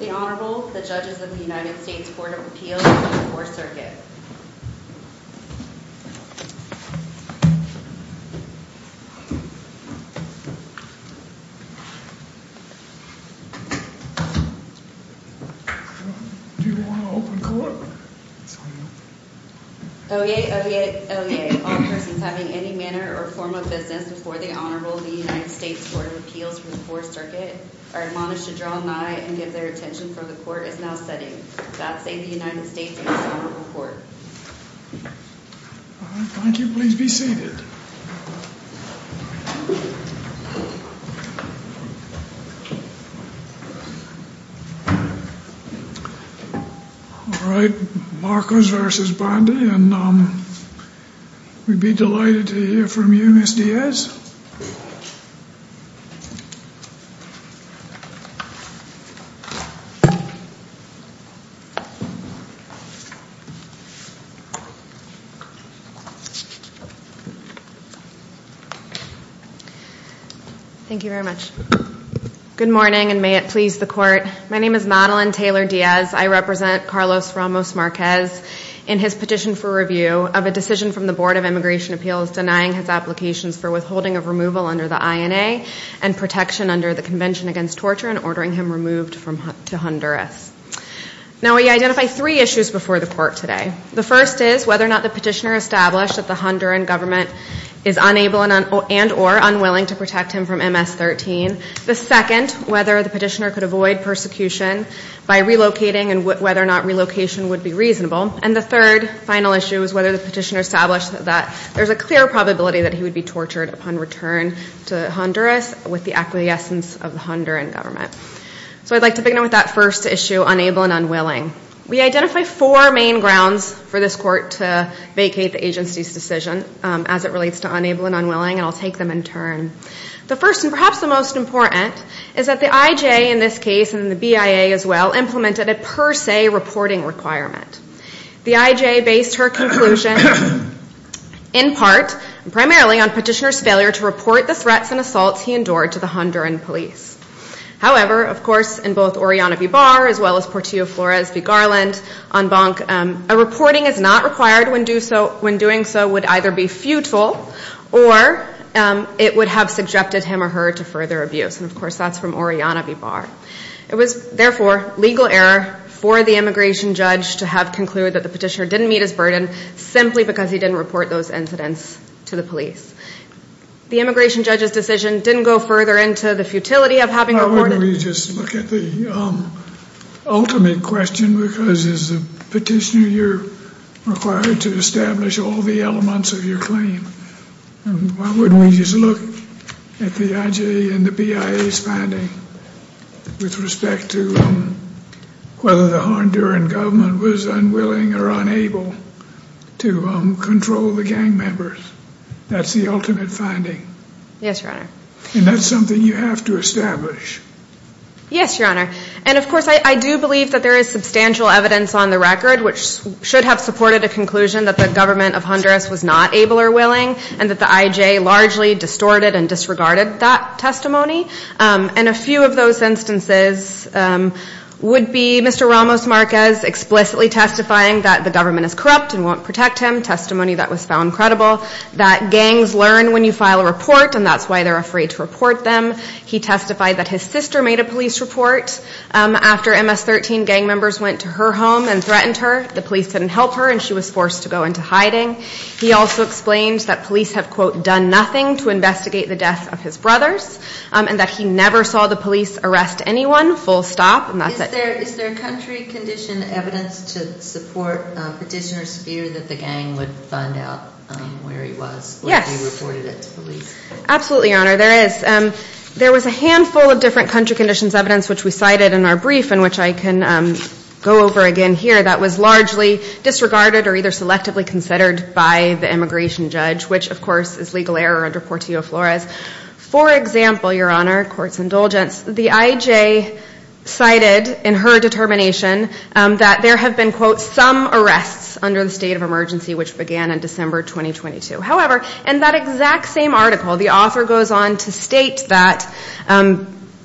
The Honorable, the Judges of the United States Court of Appeals for the 4th Circuit Oyez, Oyez, Oyez. All persons having any manner or form of business before the Honorable of the United States Court of Appeals for the 4th Circuit are admonished to draw nigh and give their attention for the court is now setting. God save the United States and its Honorable Court. All right, thank you. Please be seated. All right, Marquez v. Bondi and we'd be delighted to hear from you, Ms. Diaz. Thank you very much. Good morning and may it please the Court. My name is Madeline Taylor Diaz. I represent Carlos Ramos Marquez. In his petition for review of a decision from the Board of Immigration Appeals denying his applications for withholding of removal under the INA and protection under the Convention Against Torture and ordering him removed to Honduras. Now, we identify three issues before the Court today. The first is whether or not the petitioner established that the Honduran government is unable and or unwilling to protect him from MS-13. The second, whether the petitioner could avoid persecution by relocating and whether or not relocation would be reasonable. And the third final issue is whether the petitioner established that there's a clear probability that he would be tortured upon return to Honduras with the acquiescence of the Honduran government. So I'd like to begin with that first issue, unable and unwilling. We identify four main grounds for this Court to vacate the agency's decision as it relates to unable and unwilling and I'll take them in turn. The first and perhaps the most important is that the IJA in this case and the BIA as well implemented a per se reporting requirement. The IJA based her conclusion in part and primarily on petitioner's failure to report the threats and assaults he endured to the Honduran police. However, of course, in both Oriana V. Barr as well as Portillo Flores v. Garland on Bonk, a reporting is not required when doing so would either be futile or it would have subjected him or her to further abuse. And of course, that's from Oriana V. Barr. It was, therefore, legal error for the immigration judge to have concluded that the petitioner didn't meet his burden simply because he didn't report those incidents to the police. The immigration judge's decision didn't go further into the futility of having reported. Why don't we just look at the ultimate question because as a petitioner you're required to establish all the elements of your claim. Why wouldn't we just look at the IJA and the BIA's finding with respect to whether the Honduran government was unwilling or unable to control the gang members? That's the ultimate finding. Yes, Your Honor. And that's something you have to establish. Yes, Your Honor. And of course, I do believe that there is substantial evidence on the record which should have supported a conclusion that the government of Honduras was not able or willing and that the IJA largely distorted and disregarded that testimony. And a few of those instances would be Mr. Ramos Marquez explicitly testifying that the government is corrupt and won't protect him, testimony that was found credible, that gangs learn when you file a report and that's why they're afraid to report them. He testified that his sister made a police report after MS-13 gang members went to her home and threatened her. The police didn't help her and she was forced to go into hiding. He also explained that police have, quote, done nothing to investigate the death of his brothers and that he never saw the police arrest anyone full stop. And that's it. Is there country condition evidence to support petitioners' fear that the gang would find out where he was? Absolutely, Your Honor, there is. There was a handful of different country conditions evidence which we cited in our brief and which I can go over again here that was largely disregarded or either selectively considered by the immigration judge, which of course is legal error under Portillo-Flores. For example, Your Honor, court's indulgence, the IJ cited in her determination that there have been, quote, some arrests under the state of emergency which began in December 2022. However, in that exact same article, the author goes on to state that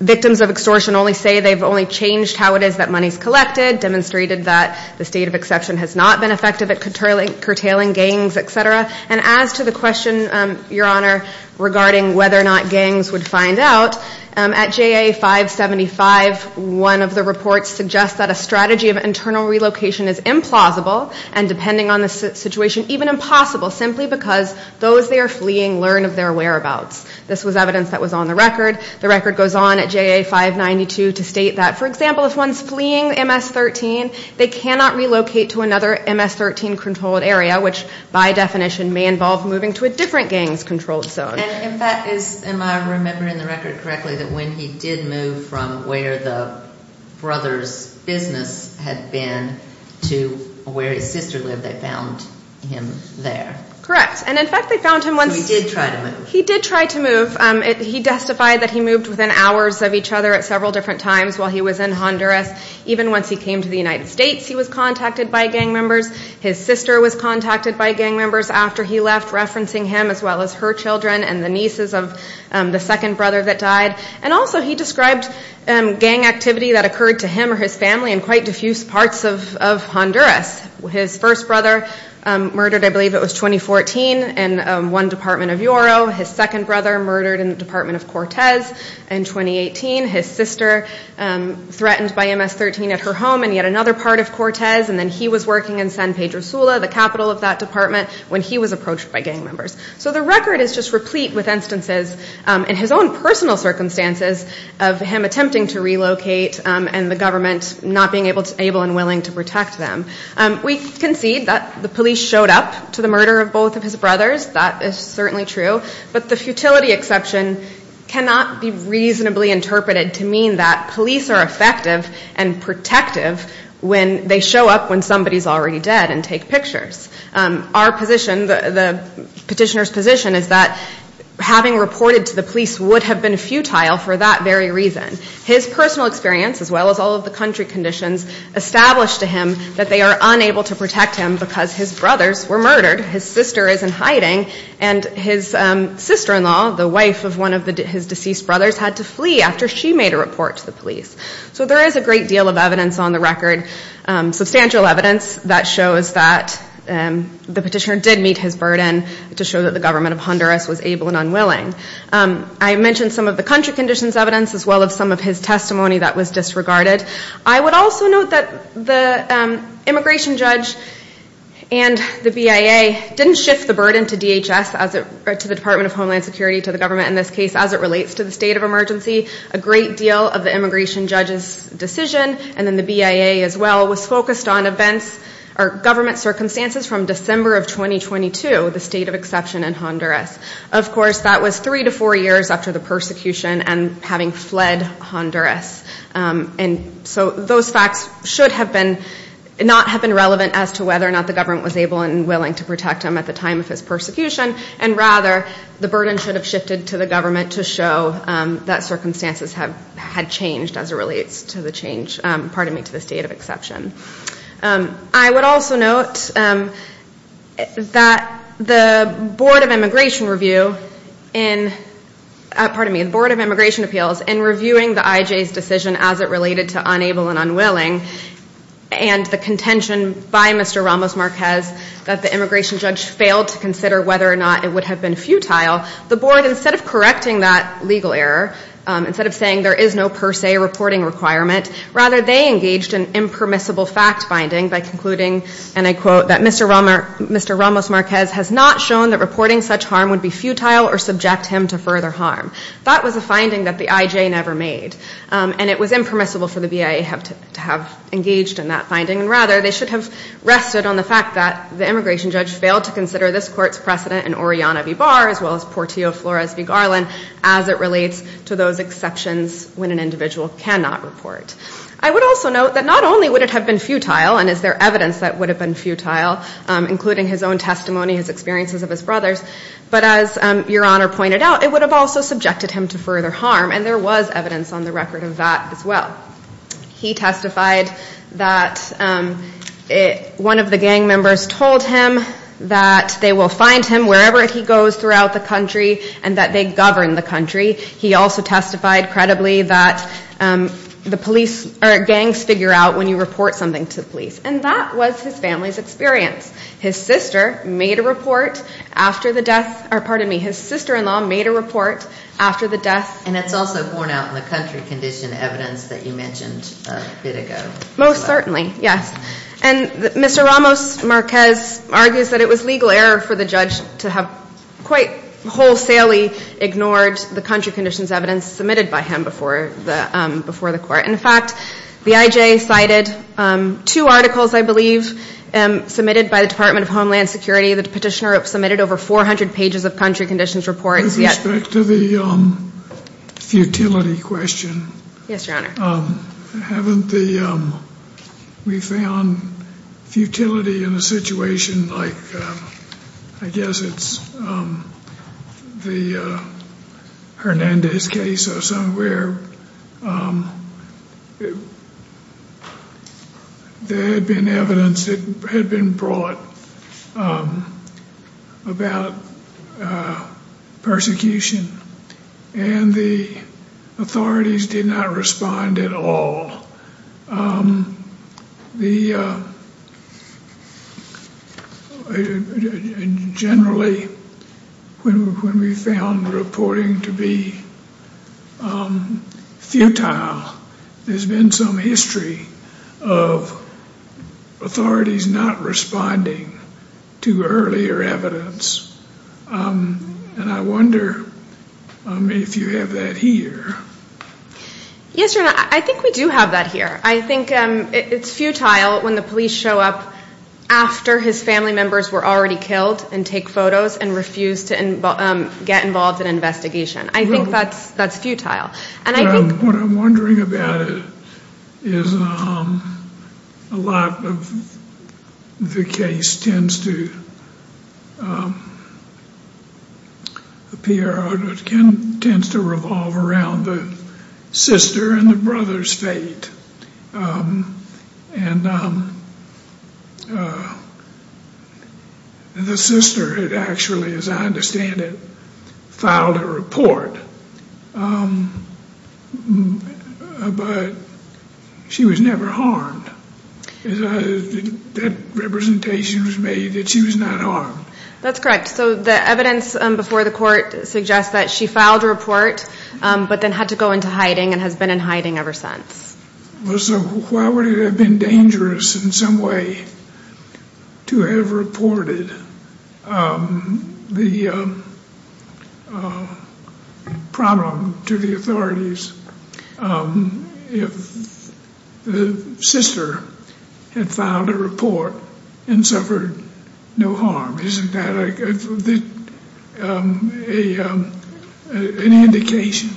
victims of extortion only say they've only changed how it is that money's collected, demonstrated that the state of exception has not been effective at curtailing gangs, et cetera. And as to the question, Your Honor, regarding whether or not gangs would find out, at JA 575, one of the reports suggests that a strategy of internal relocation is implausible and, depending on the situation, even impossible simply because those they are fleeing learn of their whereabouts. This was evidence that was on the record. The record goes on at JA 592 to state that, for example, if one's fleeing MS-13, they cannot relocate to another MS-13-controlled area, which by definition may involve moving to a different gangs-controlled zone. And in fact, am I remembering the record correctly that when he did move from where the brother's business had been to where his sister lived, they found him there? Correct. And in fact, they found him once he did try to move. He testified that he moved within hours of each other at several different times while he was in Honduras. Even once he came to the United States, he was contacted by gang members. His sister was contacted by gang members after he left, referencing him as well as her children and the nieces of the second brother that died. And also he described gang activity that occurred to him or his family in quite diffuse parts of Honduras. His first brother murdered, I believe it was 2014, in one department of Yoro. His second brother murdered in the department of Cortez in 2018. His sister threatened by MS-13 at her home in yet another part of Cortez, and then he was working in San Pedro Sula, the capital of that department, when he was approached by gang members. So the record is just replete with instances in his own personal circumstances of him attempting to relocate and the government not being able and willing to protect them. We concede that the police showed up to the murder of both of his brothers. That is certainly true. But the futility exception cannot be reasonably interpreted to mean that police are effective and protective when they show up when somebody is already dead and take pictures. Our position, the petitioner's position is that having reported to the police would have been futile for that very reason. His personal experience, as well as all of the country conditions, established to him that they are unable to protect him because his brothers were murdered. His sister is in hiding, and his sister-in-law, the wife of one of his deceased brothers, had to flee after she made a report to the police. So there is a great deal of evidence on the record, substantial evidence that shows that the petitioner did meet his burden to show that the government of Honduras was able and unwilling. I mentioned some of the country conditions evidence, as well as some of his testimony that was disregarded. I would also note that the immigration judge and the BIA didn't shift the burden to DHS, to the Department of Homeland Security, to the government in this case, as it relates to the state of emergency. A great deal of the immigration judge's decision, and then the BIA as well, was focused on events or government circumstances from December of 2022, the state of exception in Honduras. Of course, that was three to four years after the persecution and having fled Honduras. And so those facts should not have been relevant as to whether or not the government was able and willing to protect him at the time of his persecution, and rather, the burden should have shifted to the government to show that circumstances had changed as it relates to the state of exception. I would also note that the Board of Immigration Review in, pardon me, the Board of Immigration Appeals, in reviewing the IJ's decision as it related to unable and unwilling, and the contention by Mr. Ramos Marquez that the immigration judge failed to consider whether or not it would have been futile, the board, instead of correcting that legal error, instead of saying there is no per se reporting requirement, rather they engaged in impermissible fact-binding by concluding, and I quote, that Mr. Ramos Marquez has not shown that reporting such harm would be futile or subject him to further harm. That was a finding that the IJ never made, and it was impermissible for the BIA to have engaged in that finding, and rather, they should have rested on the fact that the immigration judge failed to consider this court's precedent in Oriana v. Barr as well as Portillo v. Flores v. Garland as it relates to those exceptions when an individual cannot report. I would also note that not only would it have been futile, and is there evidence that it would have been futile, including his own testimony, his experiences of his brothers, but as Your Honor pointed out, it would have also subjected him to further harm, and there was evidence on the record of that as well. He testified that one of the gang members told him that they will find him wherever he goes throughout the country and that they govern the country. He also testified credibly that gangs figure out when you report something to the police, and that was his family's experience. His sister made a report after the death, or pardon me, his sister-in-law made a report after the death. And it's also borne out in the country condition evidence that you mentioned a bit ago. Most certainly, yes. And Mr. Ramos Marquez argues that it was legal error for the judge to have quite wholesalely ignored the country conditions evidence submitted by him before the court. In fact, the IJ cited two articles, I believe, submitted by the Department of Homeland Security. The petitioner submitted over 400 pages of country conditions reports. With respect to the futility question, haven't we found futility in a situation like, I guess it's the Hernandez case or somewhere. There had been evidence that had been brought about persecution, and the authorities did not respond at all. Generally, when we found reporting to be futile, there's been some history of authorities not responding to earlier evidence. And I wonder if you have that here. Yes, Your Honor, I think we do have that here. I think it's futile when the police show up after his family members were already killed, and take photos, and refuse to get involved in investigation. I think that's futile. What I'm wondering about it is a lot of the case tends to appear, tends to revolve around the sister and the brother's fate. The sister had actually, as I understand it, filed a report, but she was never harmed. That representation was made that she was not harmed. I guess that she filed a report, but then had to go into hiding, and has been in hiding ever since. So why would it have been dangerous in some way to have reported the problem to the authorities if the sister had filed a report and suffered no harm? That's an indication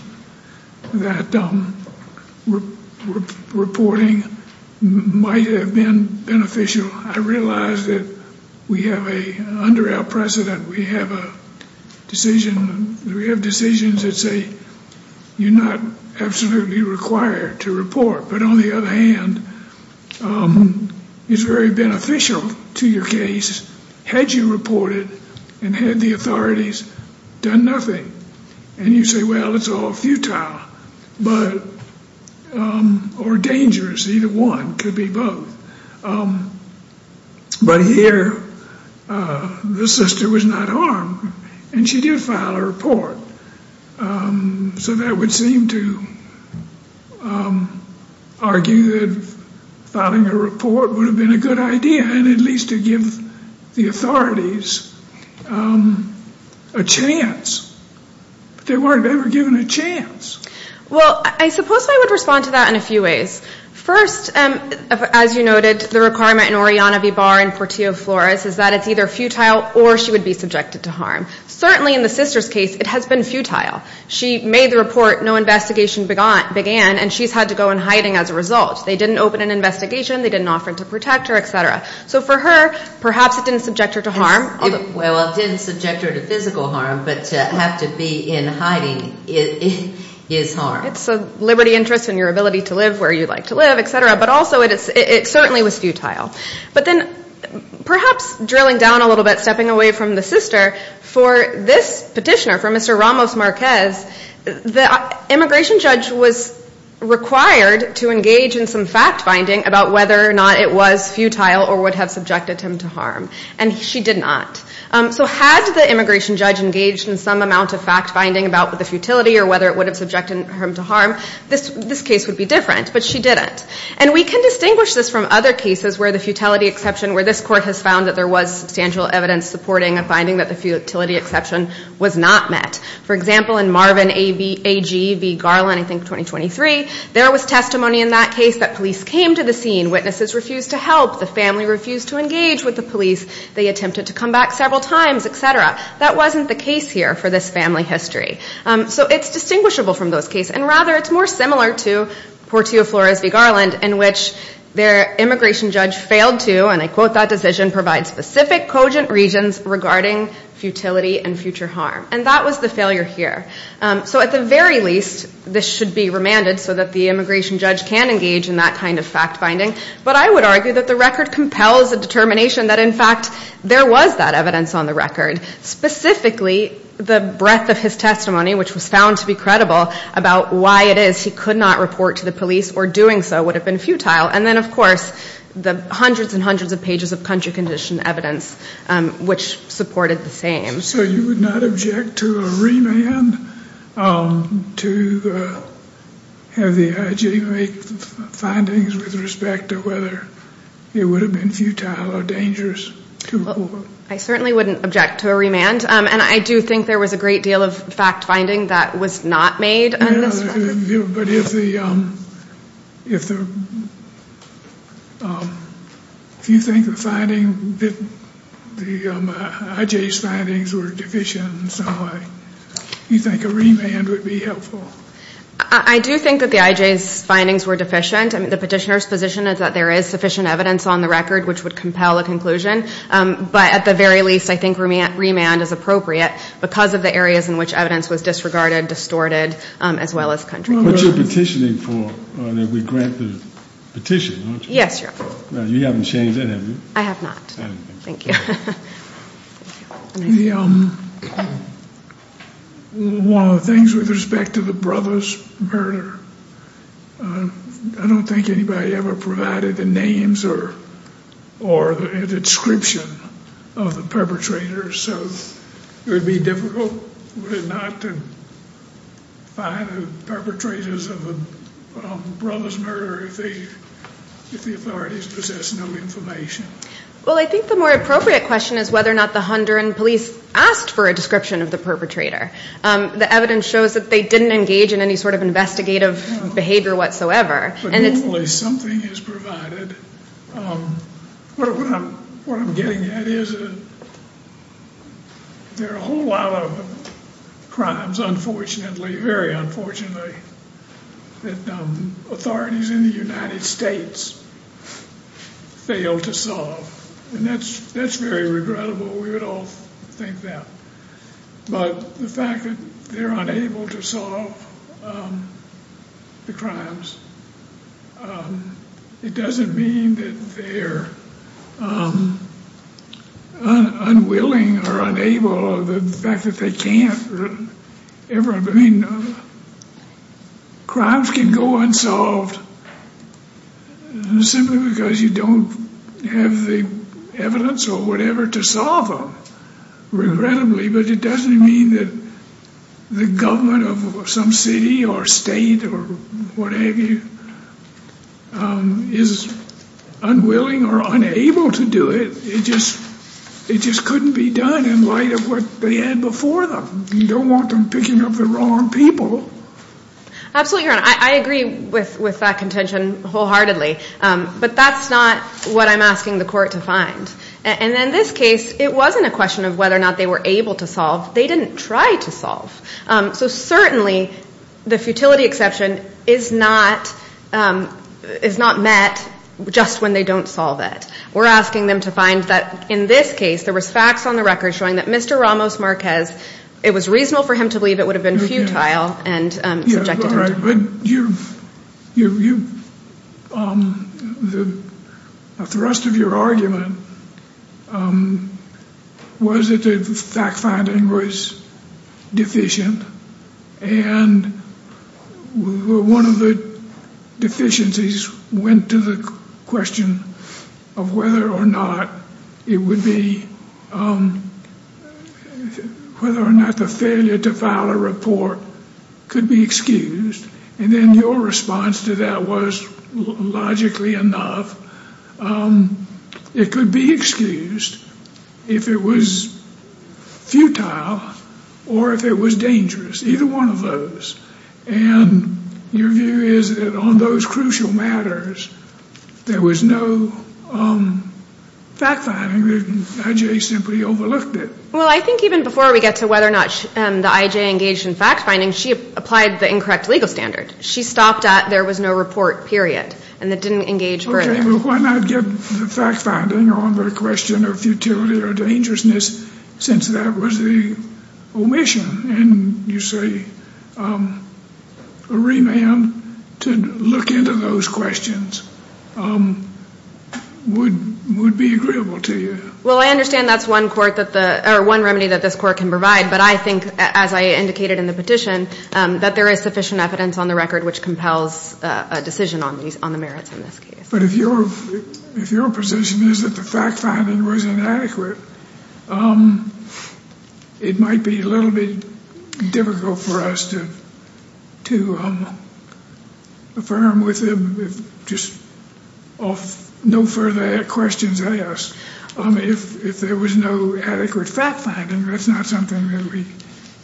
that reporting might have been beneficial. I realize that under our precedent, we have decisions that say you're not absolutely required to report. But on the other hand, it's very beneficial to your case had you reported and had the authorities done nothing. And you say, well, it's all futile, or dangerous. Either one. It could be both. But here, the sister was not harmed, and she did file a report. So that would seem to argue that filing a report would have been a good idea, at least to give the authorities a chance. But they weren't ever given a chance. Well, I suppose I would respond to that in a few ways. First, as you noted, the requirement in Oriana V. Barr and Portillo Flores is that it's either futile or she would be subjected to harm. Certainly in the sister's case, it has been futile. She made the report, no investigation began, and she's had to go in hiding as a result. They didn't open an investigation, they didn't offer to protect her, et cetera. So for her, perhaps it didn't subject her to harm. Well, it didn't subject her to physical harm, but to have to be in hiding is harm. It's a liberty interest in your ability to live where you like to live, et cetera, but also it certainly was futile. But then perhaps drilling down a little bit, stepping away from the sister, for this petitioner, for Mr. Ramos Marquez, the immigration judge was required to engage in some fact-finding about whether or not it was futile or would have subjected him to harm. And she did not. So had the immigration judge engaged in some amount of fact-finding about the futility or whether it would have subjected him to harm, this case would be different, but she didn't. And we can distinguish this from other cases where the futility exception, where this court has found that there was substantial evidence supporting a finding that the futility exception was not met. For example, in Marvin A.G. v. Garland, I think 2023, there was testimony in that case that police came to the scene, witnesses refused to help, the family refused to engage with the police, they attempted to come back several times, et cetera. That wasn't the case here for this family history. So it's distinguishable from those cases. And rather, it's more similar to Portillo Flores v. Garland in which their immigration judge failed to, and I quote that decision, provide specific cogent regions regarding futility and future harm. And that was the failure here. So at the very least, this should be remanded so that the immigration judge can engage in that kind of fact-finding. But I would argue that the record compels a determination that, in fact, there was that evidence on the record. Specifically, the breadth of his testimony, which was found to be credible about why it is he could not report to the police or doing so would have been futile. And then, of course, the hundreds and hundreds of pages of country-conditioned evidence, which supported the same. So you would not object to a remand to have the I.G. make the findings with respect to the I.G. and with respect to whether it would have been futile or dangerous to report. I certainly wouldn't object to a remand. And I do think there was a great deal of fact-finding that was not made on this record. Yeah, but if you think the I.G.'s findings were deficient in some way, you think a remand would be helpful? I do think that the I.G.'s findings were deficient. The petitioner's position is that there is sufficient evidence on the record which would compel a conclusion. But at the very least, I think remand is appropriate because of the areas in which evidence was disregarded, distorted, as well as country-conditioned. What you're petitioning for, that we grant the petition, aren't you? Yes, Your Honor. You haven't changed that, have you? I have not. Thank you. One of the things with respect to the brothers' murder, I don't think anybody ever provided the names or the description of the perpetrators. So it would be difficult, would it not, to find the perpetrators of the brothers' murder if the authorities possess no information? Well, I think the more appropriate question is whether or not the Honduran police asked for a description of the perpetrator. The evidence shows that they didn't engage in any sort of investigative behavior whatsoever. But hopefully something is provided. What I'm getting at is there are a whole lot of crimes, unfortunately, very unfortunately, that authorities in the United States fail to solve. And that's very regrettable. We would all think that. But the fact that they're unable to solve the crimes, it doesn't mean that they're unwilling or unable. Crimes can go unsolved simply because you don't have the evidence or whatever to solve them. Regrettably, but it doesn't mean that the government of some city or state or what have you is unwilling or unable to do it. It just couldn't be done in light of what they had before them. You don't want them picking up the wrong people. Absolutely, Your Honor. I agree with that contention wholeheartedly, but that's not what I'm asking the court to find. And in this case, it wasn't a question of whether or not they were able to solve. They didn't try to solve. So certainly the futility exception is not met just when they don't solve it. We're asking them to find that in this case there was facts on the record showing that Mr. Ramos Marquez, it was reasonable for him to believe it would have been futile. The thrust of your argument was that the fact finding was deficient. And one of the deficiencies went to the question of whether or not it would be, whether or not the failure to file a report could be excused. And then your response to that was logically enough. It could be excused if it was futile or if it was dangerous. Either one of those. And your view is that on those crucial matters, there was no fact finding. The I.J. simply overlooked it. Well, I think even before we get to whether or not the I.J. engaged in fact finding, she applied the incorrect legal standard. She stopped at there was no report, period, and it didn't engage further. Okay, well, why not get the fact finding on the question of futility or dangerousness since that was the omission? And you say a remand to look into those questions would be agreeable to you. Well, I understand that's one remedy that this court can provide, but I think, as I indicated in the petition, that there is sufficient evidence on the record which compels a decision on the merits in this case. But if your position is that the fact finding was inadequate, it might be a little bit difficult for us to affirm with just no further questions asked. If there was no adequate fact finding, that's not something that we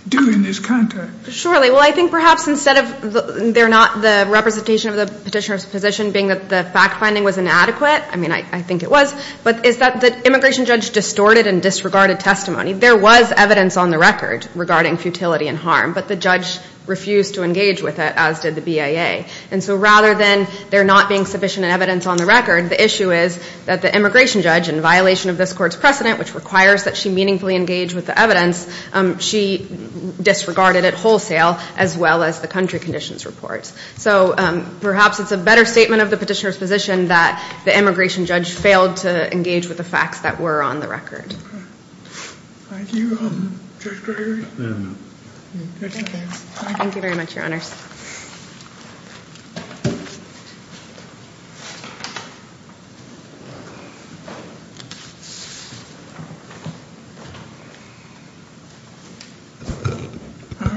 do in this context. Surely. Well, I think perhaps instead of there not the representation of the petitioner's position being that the fact finding was inadequate, I mean, I think it was, but is that the immigration judge distorted and disregarded testimony. There was evidence on the record regarding futility and harm, but the judge refused to engage with it, as did the BIA. And so rather than there not being sufficient evidence on the record, the issue is that the immigration judge, in violation of this court's precedent, which requires that she meaningfully engage with the evidence, she disregarded it wholesale, as well as the country conditions report. So perhaps it's a better statement of the petitioner's position that the immigration judge failed to engage with the facts that were on the record. Thank you, Judge Gregory. Thank you very much, Your Honors.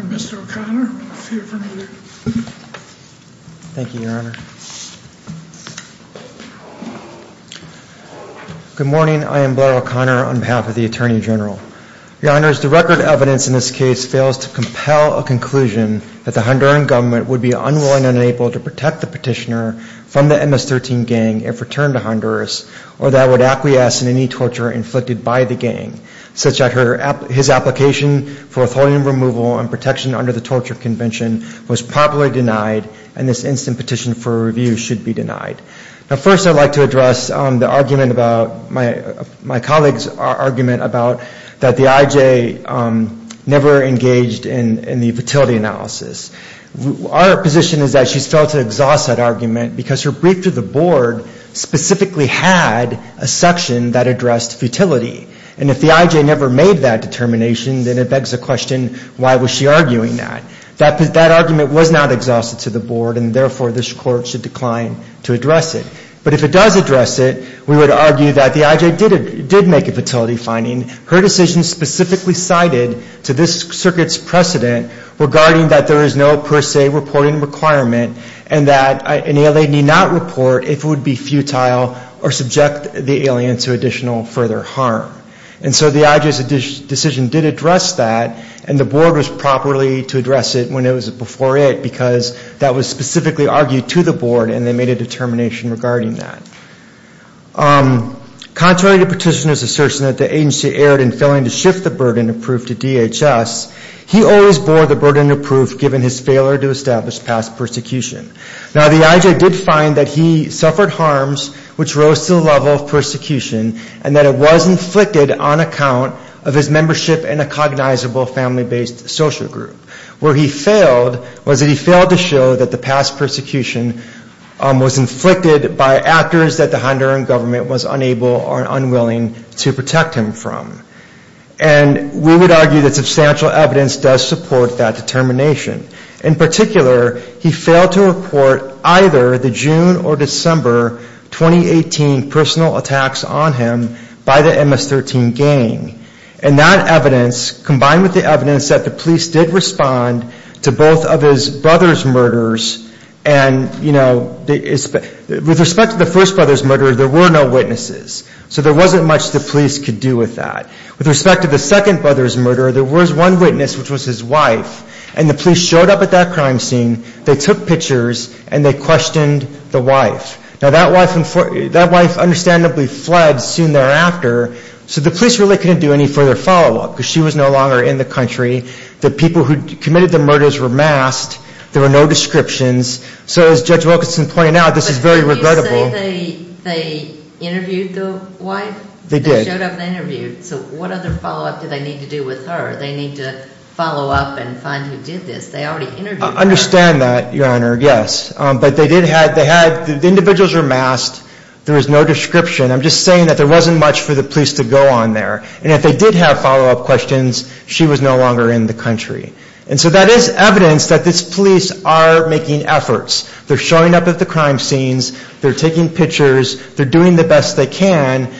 Mr. O'Connor, if you're familiar. Thank you, Your Honor. Good morning. I am Blair O'Connor, on behalf of the Attorney General. Your Honors, the record evidence in this case fails to compel a conclusion that the Honduran government would be unwilling and unable to protect the petitioner from the MS-13 gang if returned to Honduras, or that would acquiesce in any torture inflicted by the gang, such that his application for withholding removal and protection under the torture convention was popularly denied, and this instant petition for review should be denied. Now, first I'd like to address the argument about, my colleague's argument about that the IJ never engaged in the futility analysis. Our position is that she's failed to exhaust that argument, because her brief to the board specifically had a section that addressed futility. And if the IJ never made that determination, then it begs the question, why was she arguing that? That argument was not exhausted to the board, and therefore this court should decline to address it. But if it does address it, we would argue that the IJ did make a futility finding. Her decision specifically cited to this circuit's precedent regarding that there is no per se reporting requirement, and that an alien need not report if it would be futile or subject the alien to additional further harm. And so the IJ's decision did address that, and the board was properly to address it when it was before it, because that was specifically argued to the board, and they made a determination regarding that. Contrary to petitioner's assertion that the agency erred in failing to shift the burden of proof to DHS, he always bore the burden of proof given his failure to establish past persecution. Now, the IJ did find that he suffered harms which rose to the level of persecution, and that it was inflicted on account of his membership in a cognizable family-based social group. Where he failed was that he failed to show that the past persecution was inflicted by actors that the Honduran government was unable or unwilling to protect him from. And we would argue that substantial evidence does support that determination. In particular, he failed to report either the June or December 2018 personal attacks on him by the MS-13 gang. And that evidence, combined with the evidence that the police did respond to both of his brother's murders, and, you know, with respect to the first brother's murder, there were no witnesses. So there wasn't much the police could do with that. With respect to the second brother's murder, there was one witness, which was his wife, and the police showed up at that crime scene, they took pictures, and they questioned the wife. Now, that wife understandably fled soon thereafter, so the police really couldn't do any further follow-up, because she was no longer in the country. The people who committed the murders were masked. There were no descriptions. So as Judge Wilkinson pointed out, this is very regrettable. But didn't you say they interviewed the wife? They showed up and interviewed. So what other follow-up did they need to do with her? They need to follow up and find who did this. They already interviewed her. I understand that, Your Honor, yes. But they did have, they had, the individuals were masked. There was no description. I'm just saying that there wasn't much for the police to go on there. And if they did have follow-up questions, she was no longer in the country. And so that is evidence that this police are making efforts. They're showing up at the crime scenes. They're taking pictures. They're doing the best they can.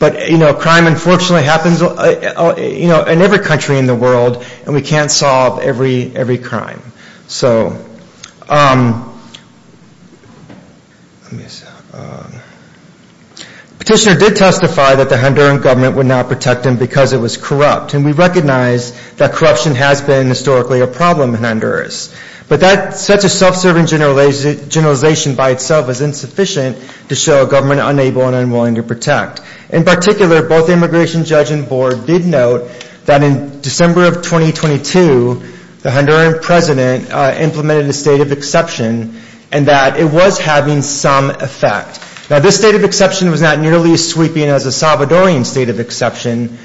But, you know, crime unfortunately happens, you know, in every country in the world, and we can't solve every crime. So... Petitioner did testify that the Honduran government would not protect him because it was corrupt. And we recognize that corruption has been historically a problem in Honduras. But such a self-serving generalization by itself is insufficient to show a government unable and unwilling to protect. In particular, both the immigration judge and board did note that in December of 2022, the Honduran president implemented a state of exception and that it was having some effect. Now, this state of exception was not nearly as sweeping as a Salvadorian state of exception,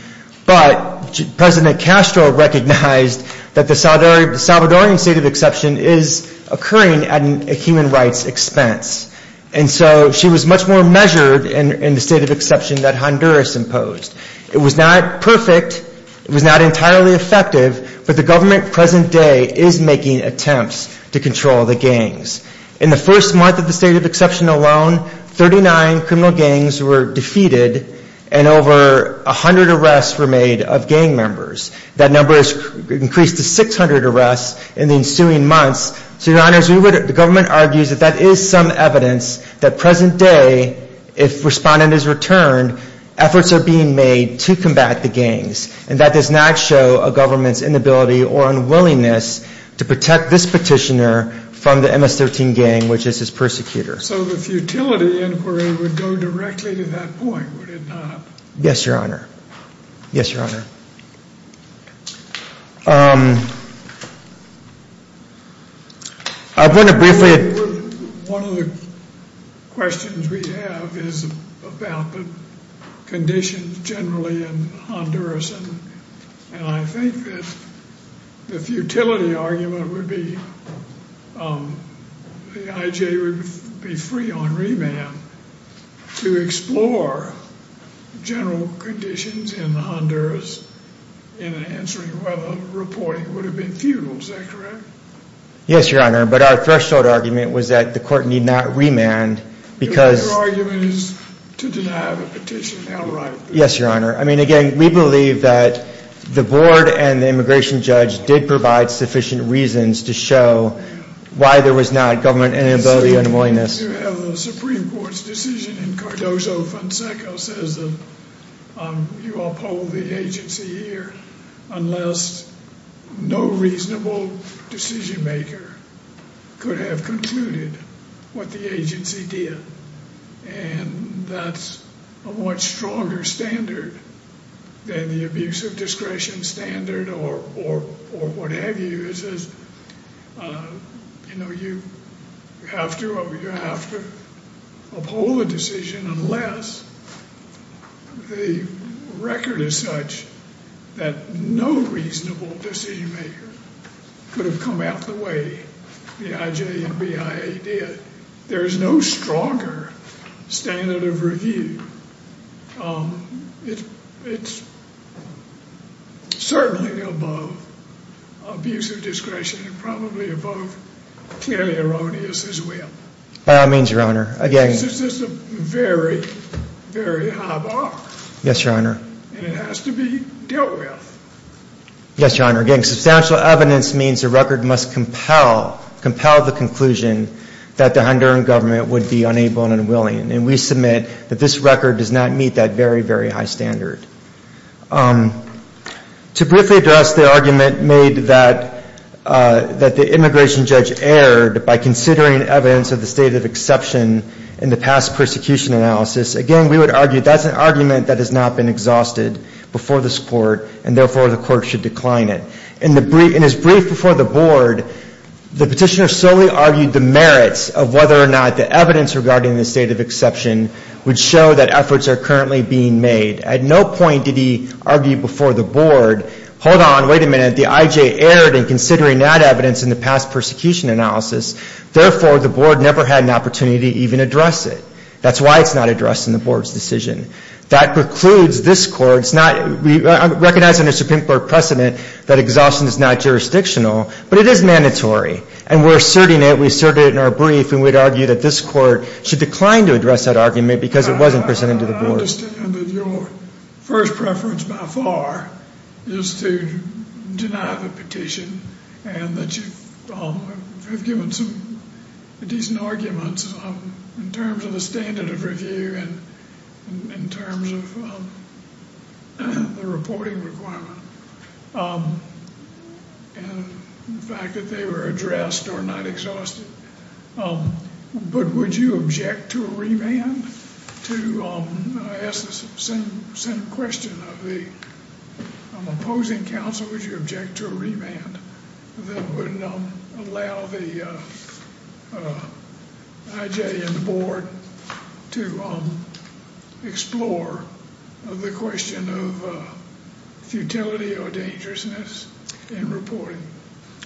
but President Castro recognized that the Salvadorian state of exception is occurring at a human rights expense. And so she was much more measured in the state of exception that Honduras imposed. It was not perfect. It was not entirely effective. But the government present day is making attempts to control the gangs. In the first month of the state of exception alone, 39 criminal gangs were defeated and over 100 arrests were made of gang members. That number has increased to 600 arrests in the ensuing months. So, Your Honor, the government argues that that is some evidence that present day, if respondent is returned, efforts are being made to combat the gangs. And that does not show a government's inability or unwillingness to protect this petitioner from the MS-13 gang, which is his persecutor. So the futility inquiry would go directly to that point, would it not? Yes, Your Honor. Yes, Your Honor. One of the questions we have is about the conditions generally in Honduras. And I think that the futility argument would be the IJ would be free on remand to explore general conditions in Honduras in answering whether reporting would have been futile. Is that correct? Yes, Your Honor. But our threshold argument was that the court need not remand because... Your argument is to deny the petition outright. Yes, Your Honor. I mean, again, we believe that the board and the immigration judge did provide sufficient reasons to show why there was not government inability or unwillingness. Yes, Your Honor. The Supreme Court's decision in Cardozo-Fonseca says that you uphold the agency here unless no reasonable decision maker could have concluded what the agency did. And that's a much stronger standard than the abuse of discretion standard or what have you. It says, you know, you have to uphold a decision unless the record is such that no reasonable decision maker could have come out the way the IJ and BIA did. There is no stronger standard of review. It's certainly above abuse of discretion and probably above clearly erroneous as well. By all means, Your Honor. Again... This is a very, very high bar. And it has to be dealt with. Yes, Your Honor. Again, substantial evidence means the record must compel the conclusion that the Honduran government does not meet that very, very high standard. To briefly address the argument made that the immigration judge erred by considering evidence of the state of exception in the past persecution analysis, again, we would argue that's an argument that has not been exhausted before this court, and therefore the court should decline it. In his brief before the board, the petitioner solely argued the merits of whether or not the evidence regarding the state of exception would show that the efforts are currently being made. At no point did he argue before the board, hold on, wait a minute, the IJ erred in considering that evidence in the past persecution analysis. Therefore, the board never had an opportunity to even address it. That's why it's not addressed in the board's decision. That precludes this court's not recognizing the Supreme Court precedent that exhaustion is not jurisdictional, but it is mandatory. And we're asserting it, we asserted it in our brief, and we'd argue that this court should decline to address that argument because it wasn't presented to the board. I understand that your first preference by far is to deny the petition, and that you have given some decent arguments in terms of the standard of review and in terms of the reporting requirement. And the fact that they were addressed or not exhausted. But would you object to a remand? To ask the same question of the opposing counsel, would you object to a remand that would allow the IJ and the board to explore the question of futility of the remand?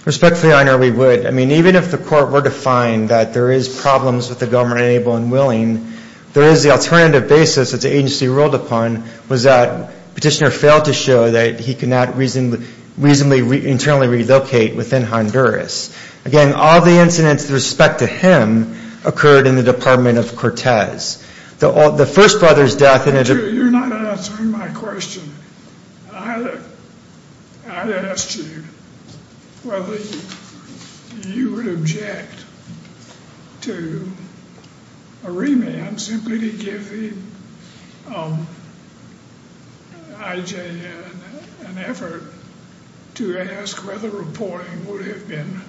Respectfully, I know we would. I mean, even if the court were to find that there is problems with the government, able and willing, there is the alternative basis that the agency ruled upon was that petitioner failed to show that he could not reasonably internally relocate within Honduras. Again, all the incidents with respect to him occurred in the Department of Cortez. You're not answering my question. I asked you whether you would object to a remand simply to give the IJ an effort to ask whether reporting would have been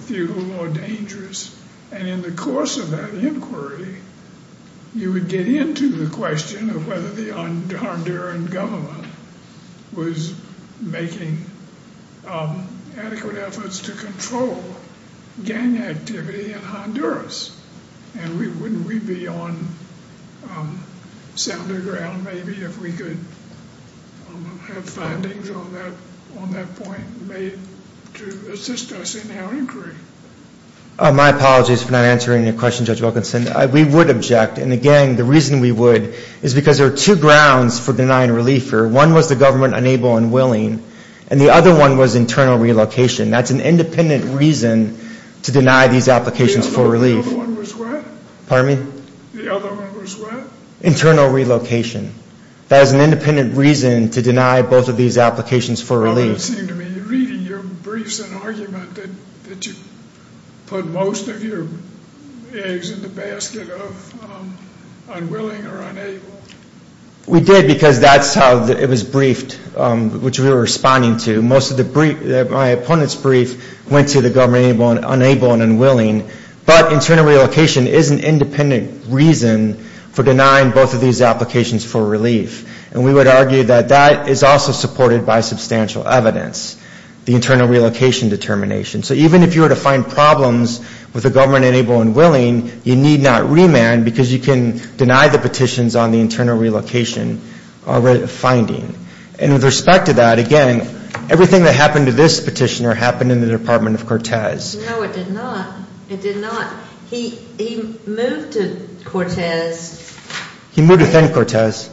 futile or dangerous. And in the course of that inquiry, you would get into the question of whether the Honduran government was making adequate efforts to control gang activity in Honduras. And wouldn't we be on sounder ground maybe if we could have findings on that point made to assist us in our inquiry? My apologies for not answering your question, Judge Wilkinson. We would object. And again, the reason we would is because there are two grounds for denying relief here. One was the government unable and willing, and the other one was internal relocation. That's an independent reason to deny these applications for relief. The other one was what? Internal relocation. That is an independent reason to deny both of these applications for relief. That's not what it seemed to me. Your brief is an argument that you put most of your eggs in the basket of unwilling or unable. We did because that's how it was briefed, which we were responding to. My opponent's brief went to the government unable and unwilling. But internal relocation is an independent reason for denying both of these applications for relief. And we would argue that that is also supported by substantial evidence, the internal relocation determination. So even if you were to find problems with the government unable and willing, you need not remand because you can deny the petitions on the internal relocation finding. And with respect to that, again, everything that happened to this petitioner happened in the Department of Cortez. No, it did not. It did not. He moved to Cortez. He moved within Cortez.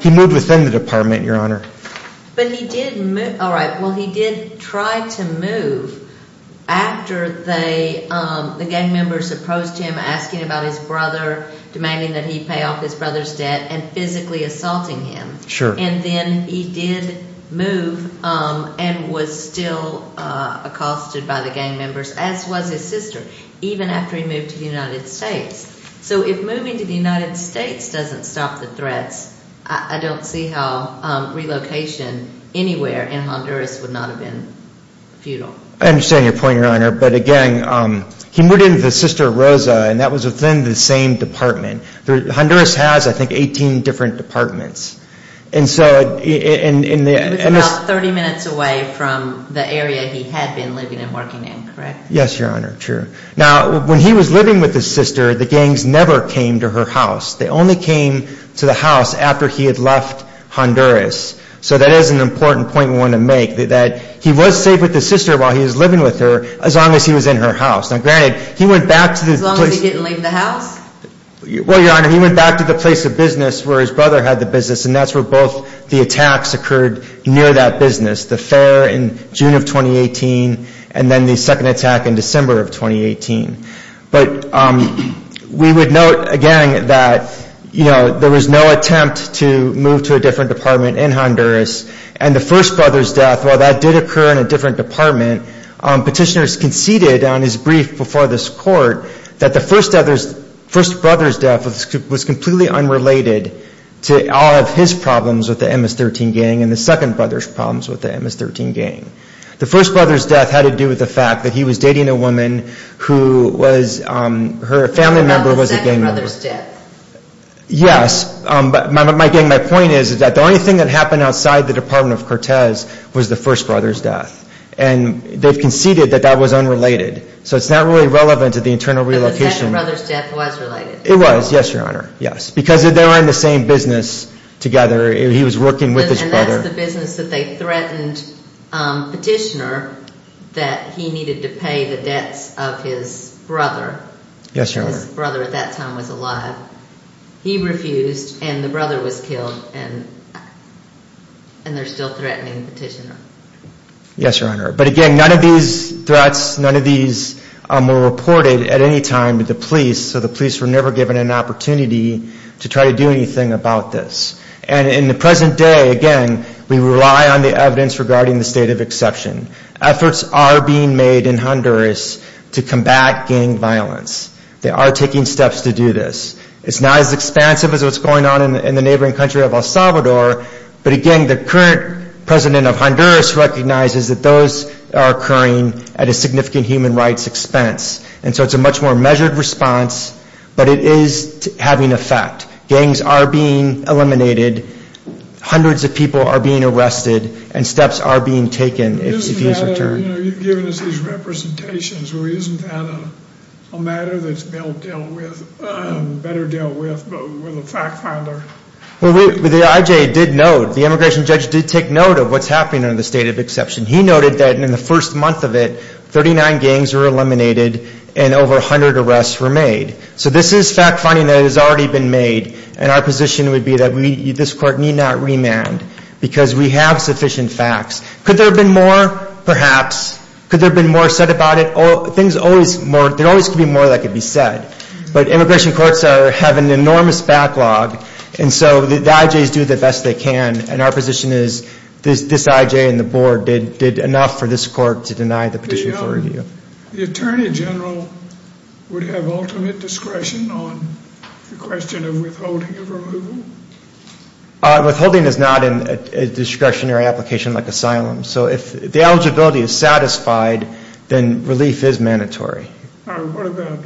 He moved within the department, Your Honor. But he did move. All right. Well, he did try to move after the gang members approached him asking about his brother, demanding that he pay off his brother's debt and physically assaulting him. And then he did move and was still accosted by the gang members, as was his sister, even after he moved to the United States. So if moving to the United States doesn't stop the threats, I don't see how relocation anywhere in Honduras would not have been futile. I understand your point, Your Honor. But again, he moved in with his sister, Rosa, and that was within the same department. Honduras has, I think, 18 different departments. He was about 30 minutes away from the area he had been living and working in, correct? Yes, Your Honor. True. Now, when he was living with his sister, the gangs never came to her house. They only came to the house after he had left Honduras. So that is an important point we want to make, that he was safe with his sister while he was living with her, as long as he was in her house. Now, granted, he went back to the place. As long as he didn't leave the house? Well, Your Honor, he went back to the place of business where his brother had the business. And that's where both the attacks occurred near that business. The fair in June of 2018, and then the second attack in December of 2018. But we would note, again, that there was no attempt to move to a different department in Honduras. And the first brother's death, while that did occur in a different department, petitioners conceded on his brief before this court that the first brother's death was completely unrelated to all of his problems with the MS-13 gang and the second brother's problems with the MS-13 gang. The first brother's death had to do with the fact that he was dating a woman who was, her family member was a gang member. Not the second brother's death. Yes, but my point is that the only thing that happened outside the department of Cortez was the first brother's death. And they've conceded that that was unrelated. So it's not really relevant to the internal relocation. But the second brother's death was related. It was, yes, Your Honor, yes. Because they were in the same business together. He was working with his brother. And that's the business that they threatened petitioner that he needed to pay the debts of his brother. Yes, Your Honor. His brother at that time was alive. He refused and the brother was killed and they're still threatening petitioner. Yes, Your Honor. But again, none of these threats, none of these were reported at any time to the police. So the police were never given an opportunity to try to do anything about this. And in the present day, again, we rely on the evidence regarding the state of exception. Efforts are being made in Honduras to combat gang violence. They are taking steps to do this. It's not as expansive as what's going on in the neighboring country of El Salvador. But again, the current president of Honduras recognizes that those are occurring at a significant human rights expense. And so it's a much more measured response. But it is having an effect. Gangs are being eliminated. Hundreds of people are being arrested. And steps are being taken. You've given us these representations. Isn't that a matter that's better dealt with with a fact finder? Well, the IJ did note, the immigration judge did take note of what's happening under the state of exception. He noted that in the first month of it, 39 gangs were eliminated and over 100 arrests were made. So this is fact finding that has already been made. And our position would be that this court need not remand because we have sufficient facts. Could there have been more? Perhaps. Could there have been more said about it? There always could be more that could be said. But immigration courts have an enormous backlog. And so the IJs do the best they can. And our position is this IJ and the board did enough for this court to deny the petition for review. The attorney general would have ultimate discretion on the question of withholding of removal? Withholding is not a discretionary application like asylum. So if the eligibility is satisfied, then relief is mandatory. What about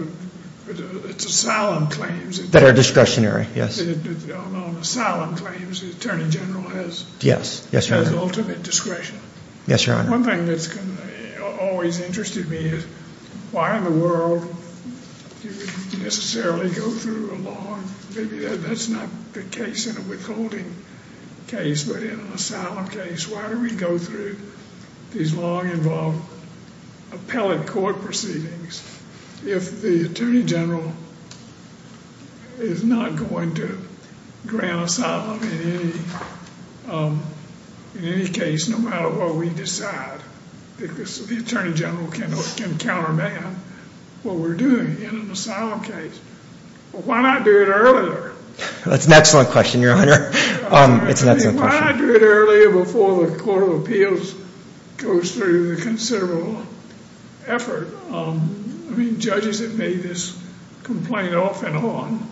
the asylum claims? That are discretionary, yes. On asylum claims, the attorney general has ultimate discretion. One thing that's always interested me is why in the world do we necessarily go through a law, maybe that's not the case in a withholding case, but in an asylum case, why do we go through these law-involved appellate court proceedings if the attorney general is not going to grant asylum in any case, no matter what we decide, because the attorney general can counter-ban what we're doing in an asylum case. Why not do it earlier? Why not do it earlier before the Court of Appeals goes through the considerable effort? I mean, judges have made this complaint off and on.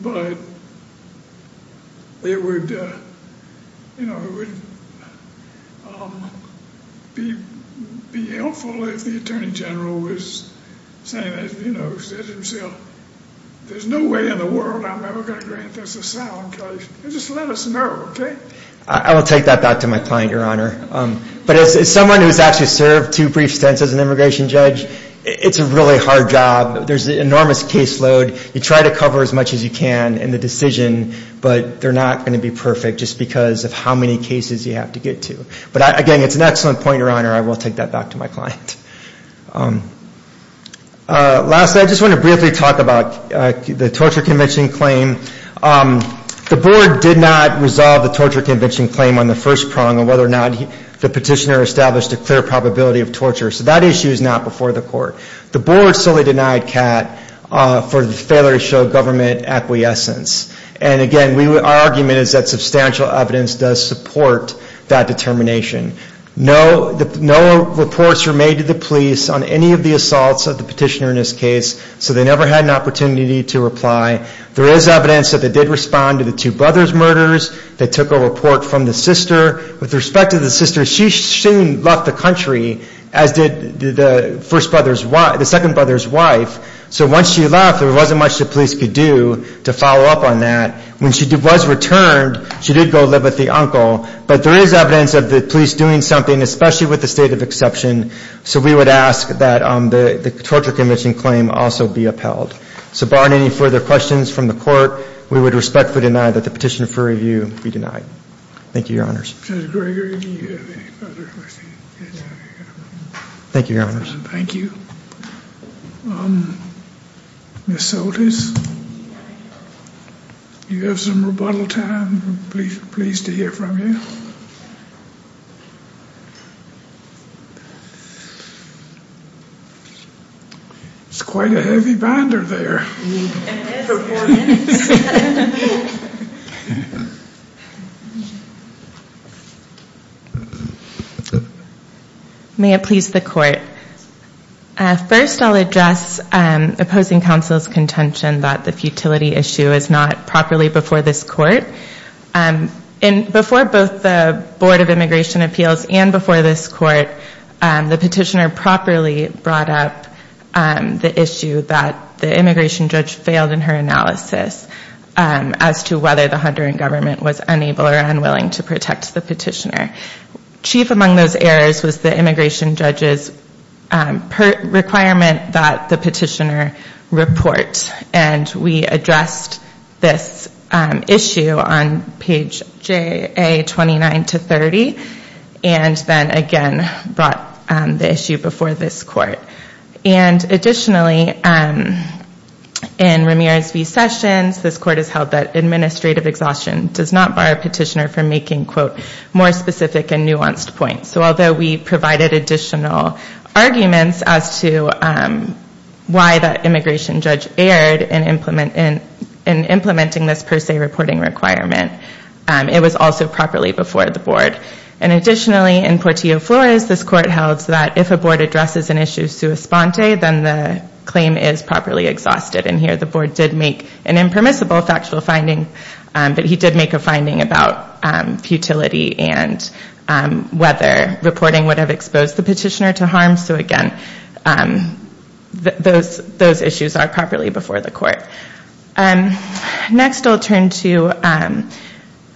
But it would be helpful if the attorney general was saying, there's no way in the world I'm ever going to grant this asylum case. Just let us know, okay? I will take that back to my client, Your Honor. But as someone who's actually served two brief stints as an immigration judge, it's a really hard job. There's an enormous caseload. You try to cover as much as you can in the decision, but they're not going to be perfect, just because of how many cases you have to get to. But again, it's an excellent point, Your Honor. I will take that back to my client. Lastly, I just want to briefly talk about the torture convention claim. The board did not resolve the torture convention claim on the first prong of whether or not the petitioner established a clear probability of torture. So that issue is not before the court. The board solely denied Catt for the failure to show government acquiescence. And again, our argument is that substantial evidence does support that determination. No reports were made to the police on any of the assaults of the petitioner in this case, so they never had an opportunity to reply. There is evidence that they did respond to the two brothers' murders. They took a report from the sister. With respect to the sister, she left the country, as did the second brother's wife. So once she left, there wasn't much the police could do to follow up on that. When she was returned, she did go live with the uncle. But there is evidence of the police doing something, especially with the state of exception. So we would ask that the torture convention claim also be upheld. So barring any further questions from the court, we would respectfully deny that the petitioner for review be denied. Thank you, Your Honors. Thank you, Your Honors. Thank you. Ms. Soltis, do you have some rebuttal time? I'm pleased to hear from you. It's quite a heavy binder there. May it please the court. First, I'll address opposing counsel's contention that the futility issue is not properly before this court. Before both the Board of Immigration Appeals and before this court, the petitioner properly brought up the issue that the immigration judge failed in her analysis as to whether the Honduran government was unable or unwilling to protect the petitioner. Chief among those errors was the immigration judge's requirement that the petitioner report. And we addressed this issue on page J.A. 29 to 30, and then again brought the issue before this court. And additionally, in Ramirez v. Sessions, this court has held that administrative exhaustion does not bar a petitioner from making, quote, more specific and nuanced points. So although we provided additional arguments as to why the immigration judge erred in implementing this per se reporting requirement, it was also properly before the board. And additionally, in Portillo v. Flores, this court held that if a board addresses an issue sua sponte, then the claim is properly exhausted. And here the board did make an impermissible factual finding, but he did make a finding about futility and whether reporting would have exposed the petitioner to harm. So again, those issues are properly before the court. Next I'll turn to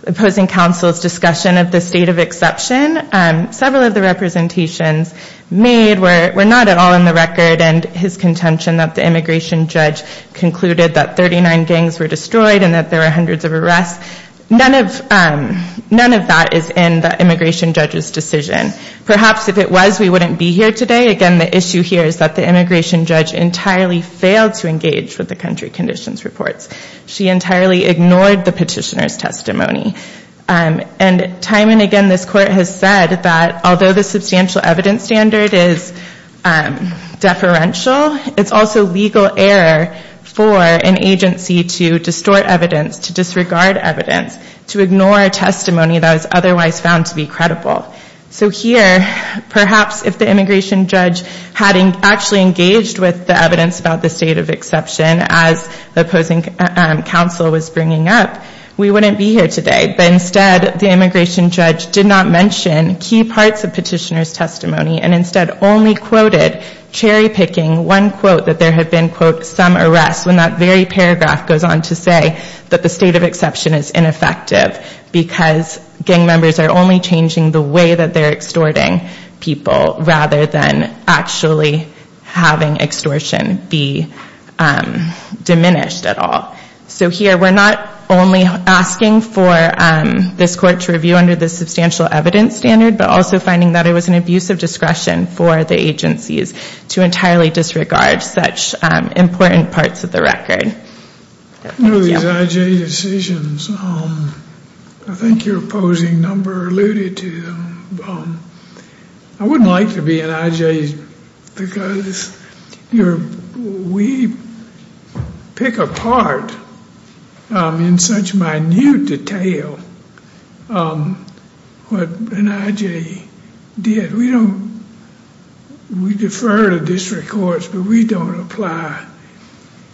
opposing counsel's discussion of the state of exception. Several of the representations made were not at all in the record, and his contention that the immigration judge concluded that 39 gangs were destroyed and that there were hundreds of arrests, none of that is in the immigration judge's decision. Perhaps if it was, we wouldn't be here today. Again, the issue here is that the immigration judge entirely failed to engage with the country conditions reports. She entirely ignored the petitioner's testimony. And time and again this court has said that although the substantial evidence standard is deferential, it's also legal error for an agency to distort evidence, to disregard evidence, to ignore testimony that is otherwise found to be credible. So here, perhaps if the immigration judge had actually engaged with the evidence about the state of exception as the opposing counsel was bringing up, we wouldn't be here today. But instead the immigration judge did not mention key parts of petitioner's testimony and instead only quoted cherry picking one quote that there had been, quote, some arrests, when that very paragraph goes on to say that the state of exception is ineffective because gang members are only changing the way that they're extorting people rather than actually having extortion be diminished at all. So here we're not only asking for this court to review under the substantial evidence standard, but also finding that it was an abuse of discretion for the agencies to entirely disregard such important parts of the record. One of these I.J. decisions, I think your opposing number alluded to them. I wouldn't like to be an I.J. because we pick apart in such minute detail what an I.J. did. We defer to district courts, but we don't apply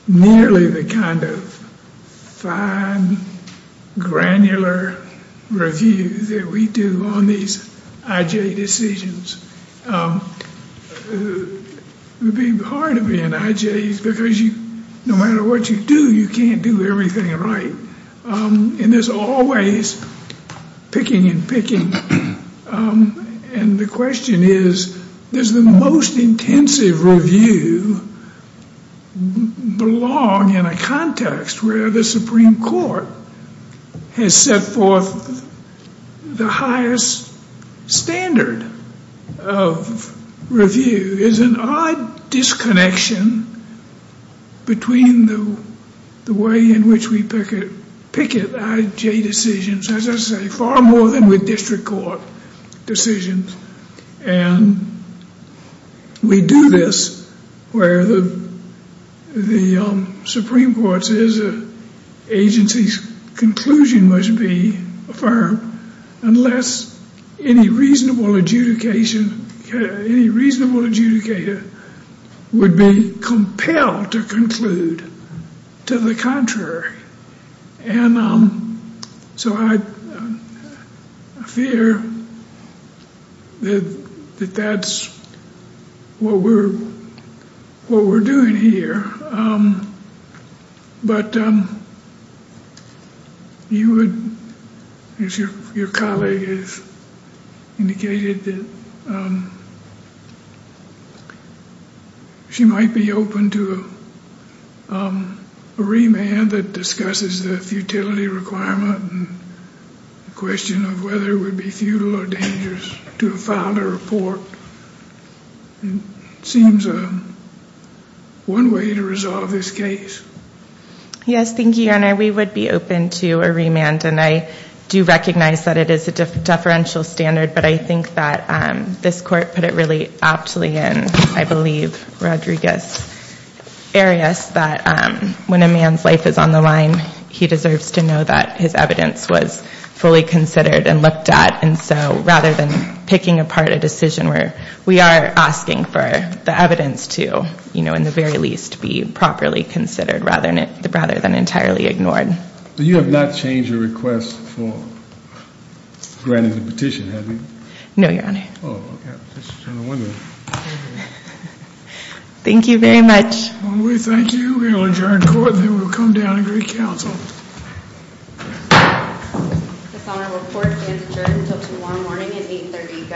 nearly the kind of fine, granular review that we do on these I.J. decisions. It would be hard to be an I.J. because no matter what you do, you can't do everything right. And there's always picking and picking. And the question is, does the most intensive review belong in a context where the Supreme Court has set forth the highest standard of review? There's an odd disconnection between the way in which we picket I.J. decisions, as I say, far more than with district court decisions. And we do this where the Supreme Court says an agency's conclusion must be affirmed, unless any reasonable adjudicator would be compelled to conclude to the contrary. And so I fear that that's what we're doing here. But you would, as your colleague has indicated, that she might be open to a remand that discusses the futility requirement and the question of whether it would be futile or dangerous to file a report. It seems one way to resolve this case. Yes, thank you, Your Honor. We would be open to a remand, and I do recognize that it is a deferential standard, but I think that this Court put it really aptly in, I believe, Rodriguez-Arias, that when a man's life is on the line, he deserves to know that his evidence was fully considered and looked at. And so rather than picking apart a decision where we are asking for the evidence to, you know, in the very least, be properly considered rather than entirely ignored. But you have not changed your request for granting the petition, have you? No, Your Honor. Thank you very much. This honorable court is adjourned until tomorrow morning at 8.30.